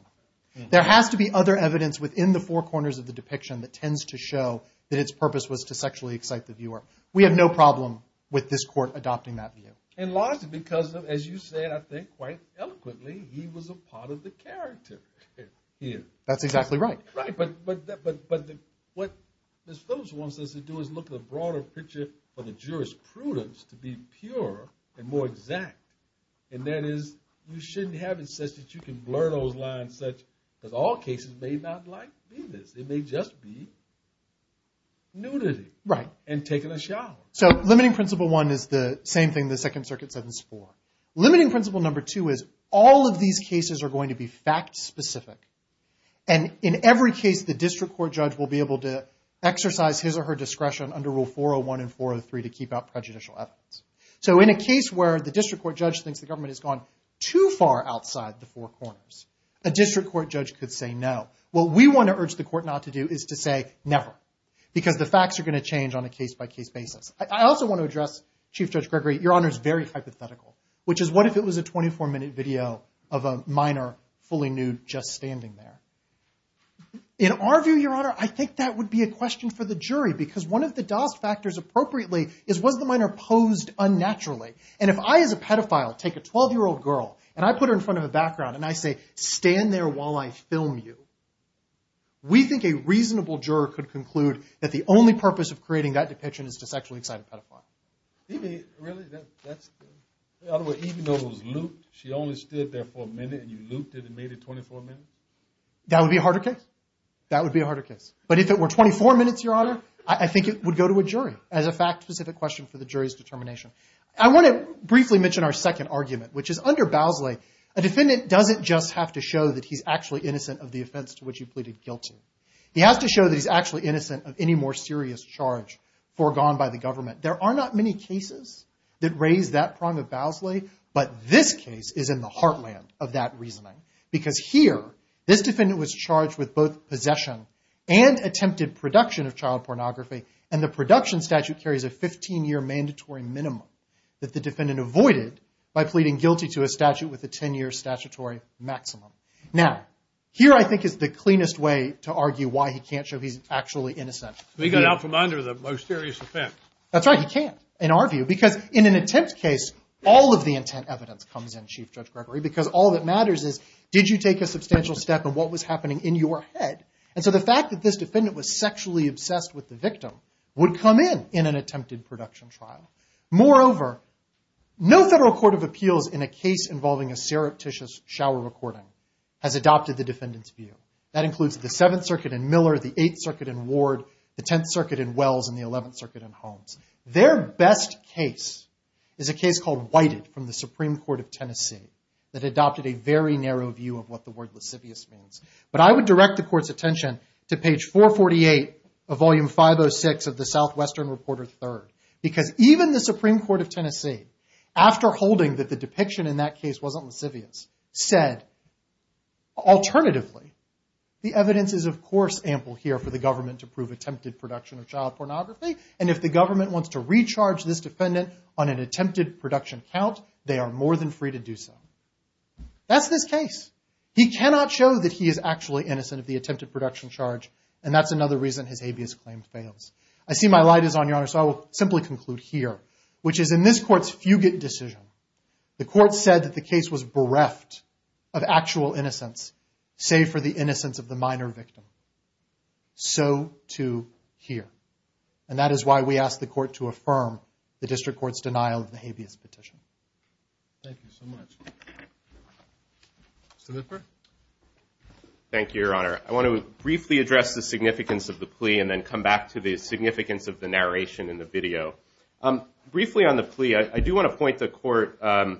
There has to be other evidence within the four corners of the depiction that tends to show that its purpose was to sexually excite the viewer. We have no problem with this court adopting that view. And largely because, as you said, I think quite eloquently, he was a part of the character here. That's exactly right. Right, but what Ms. Phillips wants us to do is look at a broader picture for the jurisprudence to be purer and more exact. And that is, you shouldn't have it such that you can blur those lines such, because all cases may not like this. It may just be nudity. Right. And taking a shower. So limiting principle one is the same thing the Second Circuit said in Spore. Limiting principle number two is, all of these cases are going to be fact-specific. And in every case, the district court judge will be able to exercise his or her discretion under Rule 401 and 403 to keep out prejudicial evidence. So in a case where the district court judge thinks the government has gone too far outside the four corners, a district court judge could say no. What we want to urge the court not to do is to say never, because the facts are going to change on a case-by-case basis. I also want to address, Chief Judge Gregory, Your Honor's very hypothetical, which is, what if it was a 24-minute video of a minor, fully nude, just standing there? In our view, Your Honor, I think that would be a question for the jury. Because one of the DoS factors appropriately is, was the minor posed unnaturally? And if I, as a pedophile, take a 12-year-old girl, and I put her in front of a background, and I say, stand there while I film you, we think a reasonable juror could conclude that the only purpose of creating that depiction is to sexually excite a pedophile. You mean, really? Even though it was looped? She only stood there for a minute, and you looped it and made it 24 minutes? That would be a harder case. But if it were 24 minutes, Your Honor, I think it would go to a jury. As a fact-specific question for the jury's determination. I want to briefly mention our second argument, which is, under Bowsley, a defendant doesn't just have to show that he's actually innocent of the offense to which he pleaded guilty. He has to show that he's actually innocent of any more serious charge foregone by the government. There are not many cases that raise that prong of Bowsley. But this case is in the heartland of that reasoning. Because here, this defendant was charged with both possession and attempted production of child pornography. And the production statute carries a 15-year mandatory minimum that the defendant avoided by pleading guilty to a statute with a 10-year statutory maximum. Now, here, I think, is the cleanest way to argue why he can't show he's actually innocent. So he got out from under the most serious offense. That's right. He can't, in our view. Because in an attempt case, all of the intent evidence comes in, Chief Judge Gregory. Because all that matters is, did you take a substantial step in what was happening in your head? And so the fact that this defendant was sexually obsessed with the victim would come in an attempted production trial. Moreover, no federal court of appeals in a case involving a surreptitious shower recording has adopted the defendant's view. That includes the Seventh Circuit in Miller, the Eighth Circuit in Ward, the Tenth Circuit in Wells, and the Eleventh Circuit in Holmes. Their best case is a case called Whited from the Supreme Court of Tennessee that adopted a very narrow view of what the word lascivious means. But I would direct the court's attention to page 448 of volume 506 of the Southwestern Reporter Third. Because even the Supreme Court of Tennessee, after holding that the depiction in that case wasn't lascivious, said, alternatively, the evidence is, of course, ample here for the government to prove attempted production of child pornography. And if the government wants to recharge this defendant on an attempted production count, they are more than free to do so. That's this case. He cannot show that he is actually innocent of the attempted production charge. And that's another reason his habeas claim fails. I see my light is on, Your Honor, so I will simply conclude here, which is in this court's fugit decision, the court said that the case was bereft of actual innocence, save for the innocence of the minor victim. So too here. And that is why we ask the court to affirm the district court's denial of the habeas petition. Thank you so much. Mr. Lippert? Thank you, Your Honor. I want to briefly address the significance of the plea and then come back to the significance of the narration in the video. Briefly on the plea, I do want to point the court to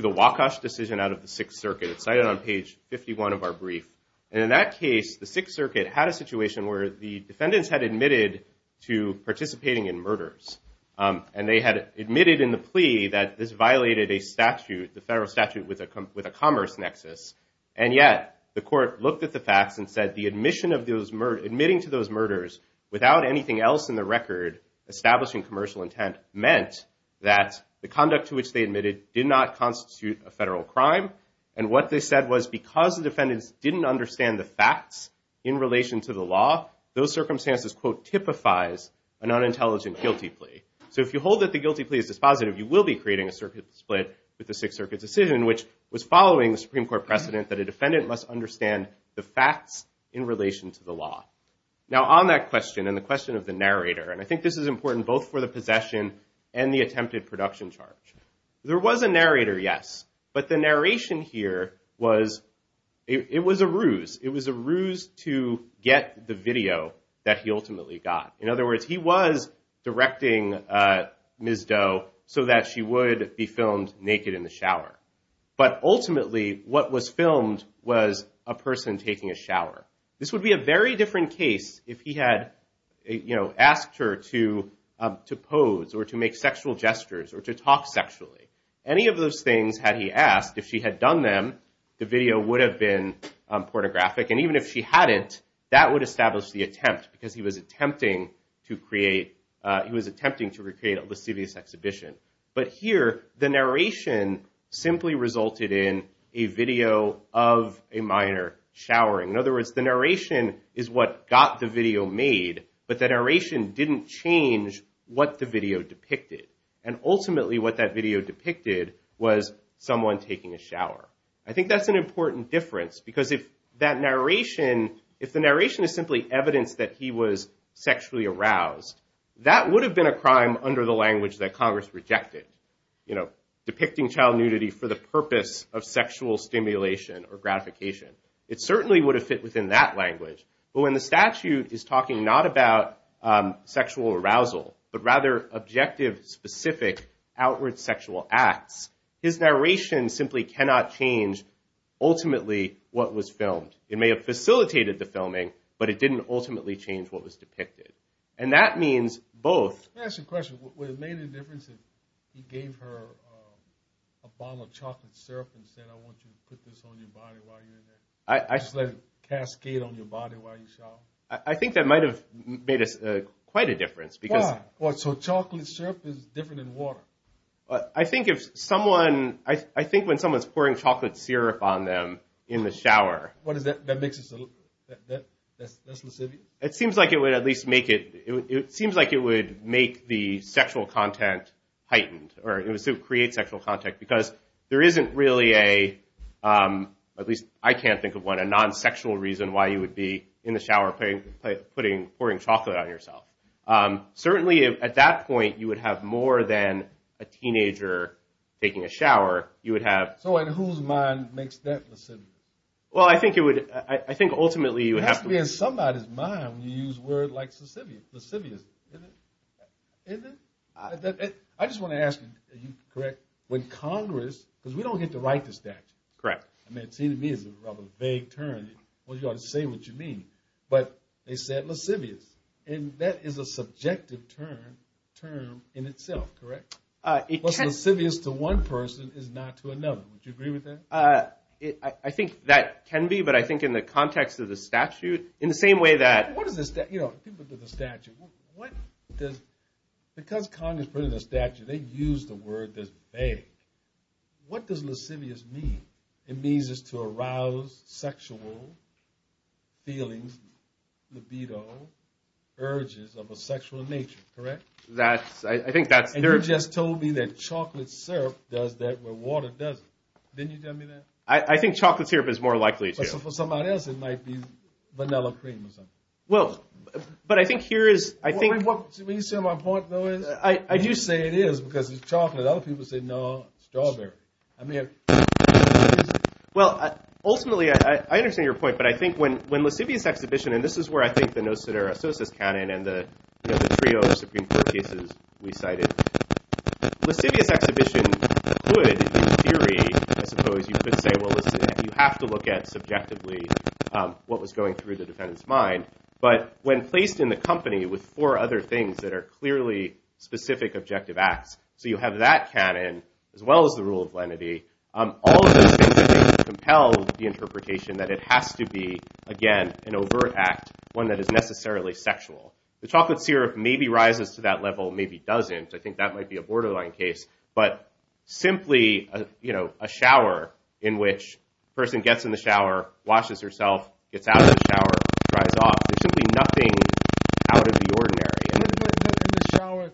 the Wacosh decision out of the Sixth Circuit. It's cited on page 51 of our brief. And in that case, the Sixth Circuit had a situation where the defendants had admitted to participating in murders. And they had admitted in the plea that this violated a statute, the federal statute, with a commerce nexus. And yet, the court looked at the facts and said admitting to those murders without anything else in the record establishing commercial intent meant that the conduct to which they admitted did not constitute a federal crime. And what they said was because the defendants didn't understand the facts in relation to the law, those circumstances, quote, typifies an unintelligent guilty plea. So if you hold that the guilty plea is dispositive, you will be creating a circuit split with the Sixth Circuit decision, which was following the Supreme Court precedent that a defendant must understand the facts in relation to the law. Now on that question and the question of the narrator, and I think this is important both for the possession and the attempted production charge. There was a narrator, yes. But the narration here was a ruse. It was a ruse to get the video that he ultimately got. In other words, he was directing Ms. Doe so that she would be filmed naked in the shower. But ultimately, what was filmed was a person taking a shower. This would be a very different case if he had asked her to pose or to make sexual gestures or to talk sexually. Any of those things had he asked, if she had done them, the video would have been pornographic. And even if she hadn't, that would establish the attempt because he was attempting to create a lascivious exhibition. But here, the narration simply resulted in a video of a minor showering. In other words, the narration is what got the video made, but the narration didn't change what the video depicted. And ultimately, what that video depicted was someone taking a shower. I think that's an important difference because if that narration, if the narration is simply evidence that he was sexually aroused, that would have been a crime under the language that Congress rejected, depicting child nudity for the purpose of sexual stimulation or gratification. It certainly would have fit within that language. But when the statute is talking not about sexual arousal, but rather objective, specific, outward sexual acts, his narration simply cannot change, ultimately, what was filmed. It may have facilitated the filming, but it didn't ultimately change what was depicted. And that means both. Let me ask you a question. Would it have made a difference if he gave her a bottle of chocolate syrup and said, I want you to put this on your body while you're in there? Just let it cascade on your body while you shower? I think that might have made quite a difference. Why? Well, so chocolate syrup is different than water. I think if someone, I think when someone's pouring chocolate syrup on them in the shower. What is that? That makes it so that's lascivious? It seems like it would at least make it. It seems like it would make the sexual content heightened, or it would create sexual content. Because there isn't really a, at least I can't think of one, a non-sexual reason why you would be in the shower pouring chocolate on yourself. Certainly, at that point, you would have more than a teenager taking a shower. You would have. So in whose mind makes that lascivious? Well, I think it would, I think ultimately you would have to. It has to be in somebody's mind when you use a word like lascivious. Lascivious, isn't it? Isn't it? I just want to ask you, are you correct? When Congress, because we don't get to write the statute. Correct. I mean, it seems to me it's a rather vague term. Well, you ought to say what you mean. But they said lascivious. And that is a subjective term in itself, correct? What's lascivious to one person is not to another. Would you agree with that? I think that can be. But I think in the context of the statute, in the same way that. What is the statute? Because Congress printed a statute, they used the word that's vague. What does lascivious mean? It means it's to arouse sexual feelings, libido, urges of a sexual nature, correct? I think that's there. And you just told me that chocolate syrup does that where water doesn't. Didn't you tell me that? I think chocolate syrup is more likely to. But for somebody else, it might be vanilla cream or something. Well, but I think here is, I think. What you say my point though is? I do say it is because it's chocolate. Other people say, no, strawberry. I mean. Well, ultimately, I understand your point. But I think when lascivious exhibition, and this is where I think the Nostradamus canon and the trio of Supreme Court cases we cited, lascivious exhibition could, in theory, I suppose, you could say, well, listen, you have to look at subjectively what was going through the defendant's mind. But when placed in the company with four other things that are clearly specific objective acts, so you have that canon, as well as the rule of lenity, all of those things are going to compel the interpretation that it has to be, again, an overt act, one that is necessarily sexual. The chocolate syrup maybe rises to that level, maybe doesn't. I think that might be a borderline case. But simply a shower in which a person gets in the shower, washes herself, gets out of the shower, dries off, simply nothing out of the ordinary. When you get in the shower,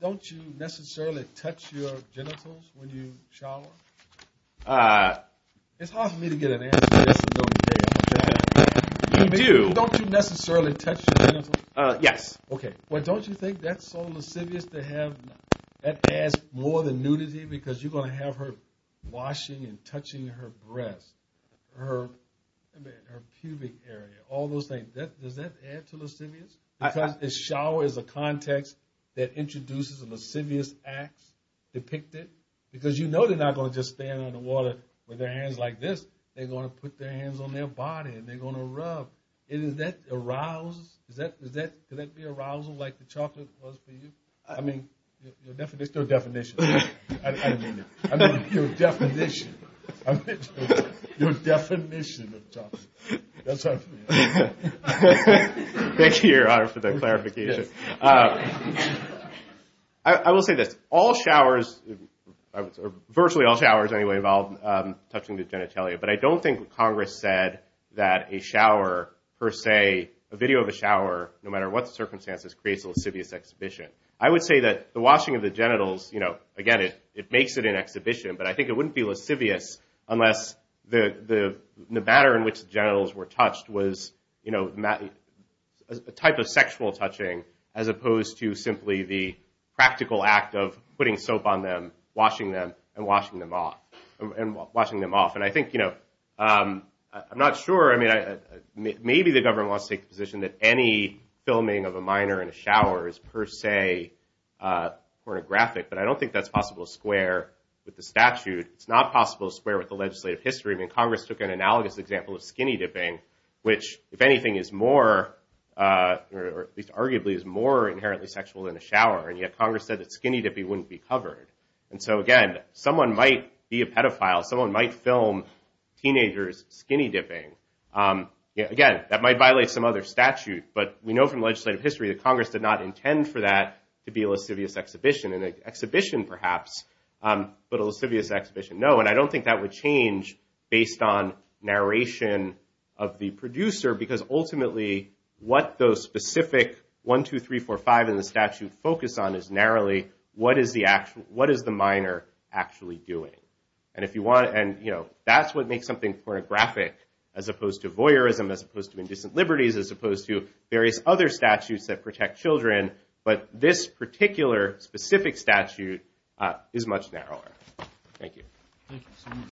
don't you necessarily touch your genitals when you shower? It's hard for me to get an answer. You do. Don't you necessarily touch your genitals? Yes. OK. Well, don't you think that's so lascivious to have? That adds more than nudity, because you're going to have her washing and touching her breast, her pubic area, all those things. Does that add to lascivious? A shower is a context that introduces a lascivious act depicted, because you know they're not going to just stand on the water with their hands like this. They're going to put their hands on their body, and they're going to rub. Is that arousal? Could that be arousal like the chocolate was for you? I mean, there's no definition. I don't mean it. I mean, your definition. Your definition of chocolate. That's what I'm saying. Thank you, Your Honor, for that clarification. I will say this. All showers, or virtually all showers anyway, involve touching the genitalia. But I don't think Congress said that a video of a shower, no matter what the circumstances, creates a lascivious exhibition. I would say that the washing of the genitals, again, it makes it an exhibition. But I think it wouldn't be lascivious unless the manner in which the genitals were touched was a type of sexual touching, as opposed to simply the practical act of putting soap on them, washing them, and washing them off. And I think, you know, I'm not sure. I mean, maybe the government wants to take the position that any filming of a minor in a shower is, per se, pornographic. But I don't think that's possible to square with the statute. It's not possible to square with the legislative history. I mean, Congress took an analogous example of skinny dipping, which, if anything, is more, or at least arguably, is more inherently sexual than a shower. And yet Congress said that skinny dipping wouldn't be covered. And so again, someone might be a pedophile. Someone might film teenagers skinny dipping. Again, that might violate some other statute. But we know from legislative history that Congress did not intend for that to be a lascivious exhibition. An exhibition, perhaps, but a lascivious exhibition, no. And I don't think that would change based on narration of the producer. Because ultimately, what those specific 1, 2, 3, 4, 5 in the statute focus on is narrowly what is the minor actually doing. And that's what makes something pornographic, as opposed to voyeurism, as opposed to indecent liberties, as opposed to various other statutes that protect children. But this particular specific statute is much narrower. Thank you.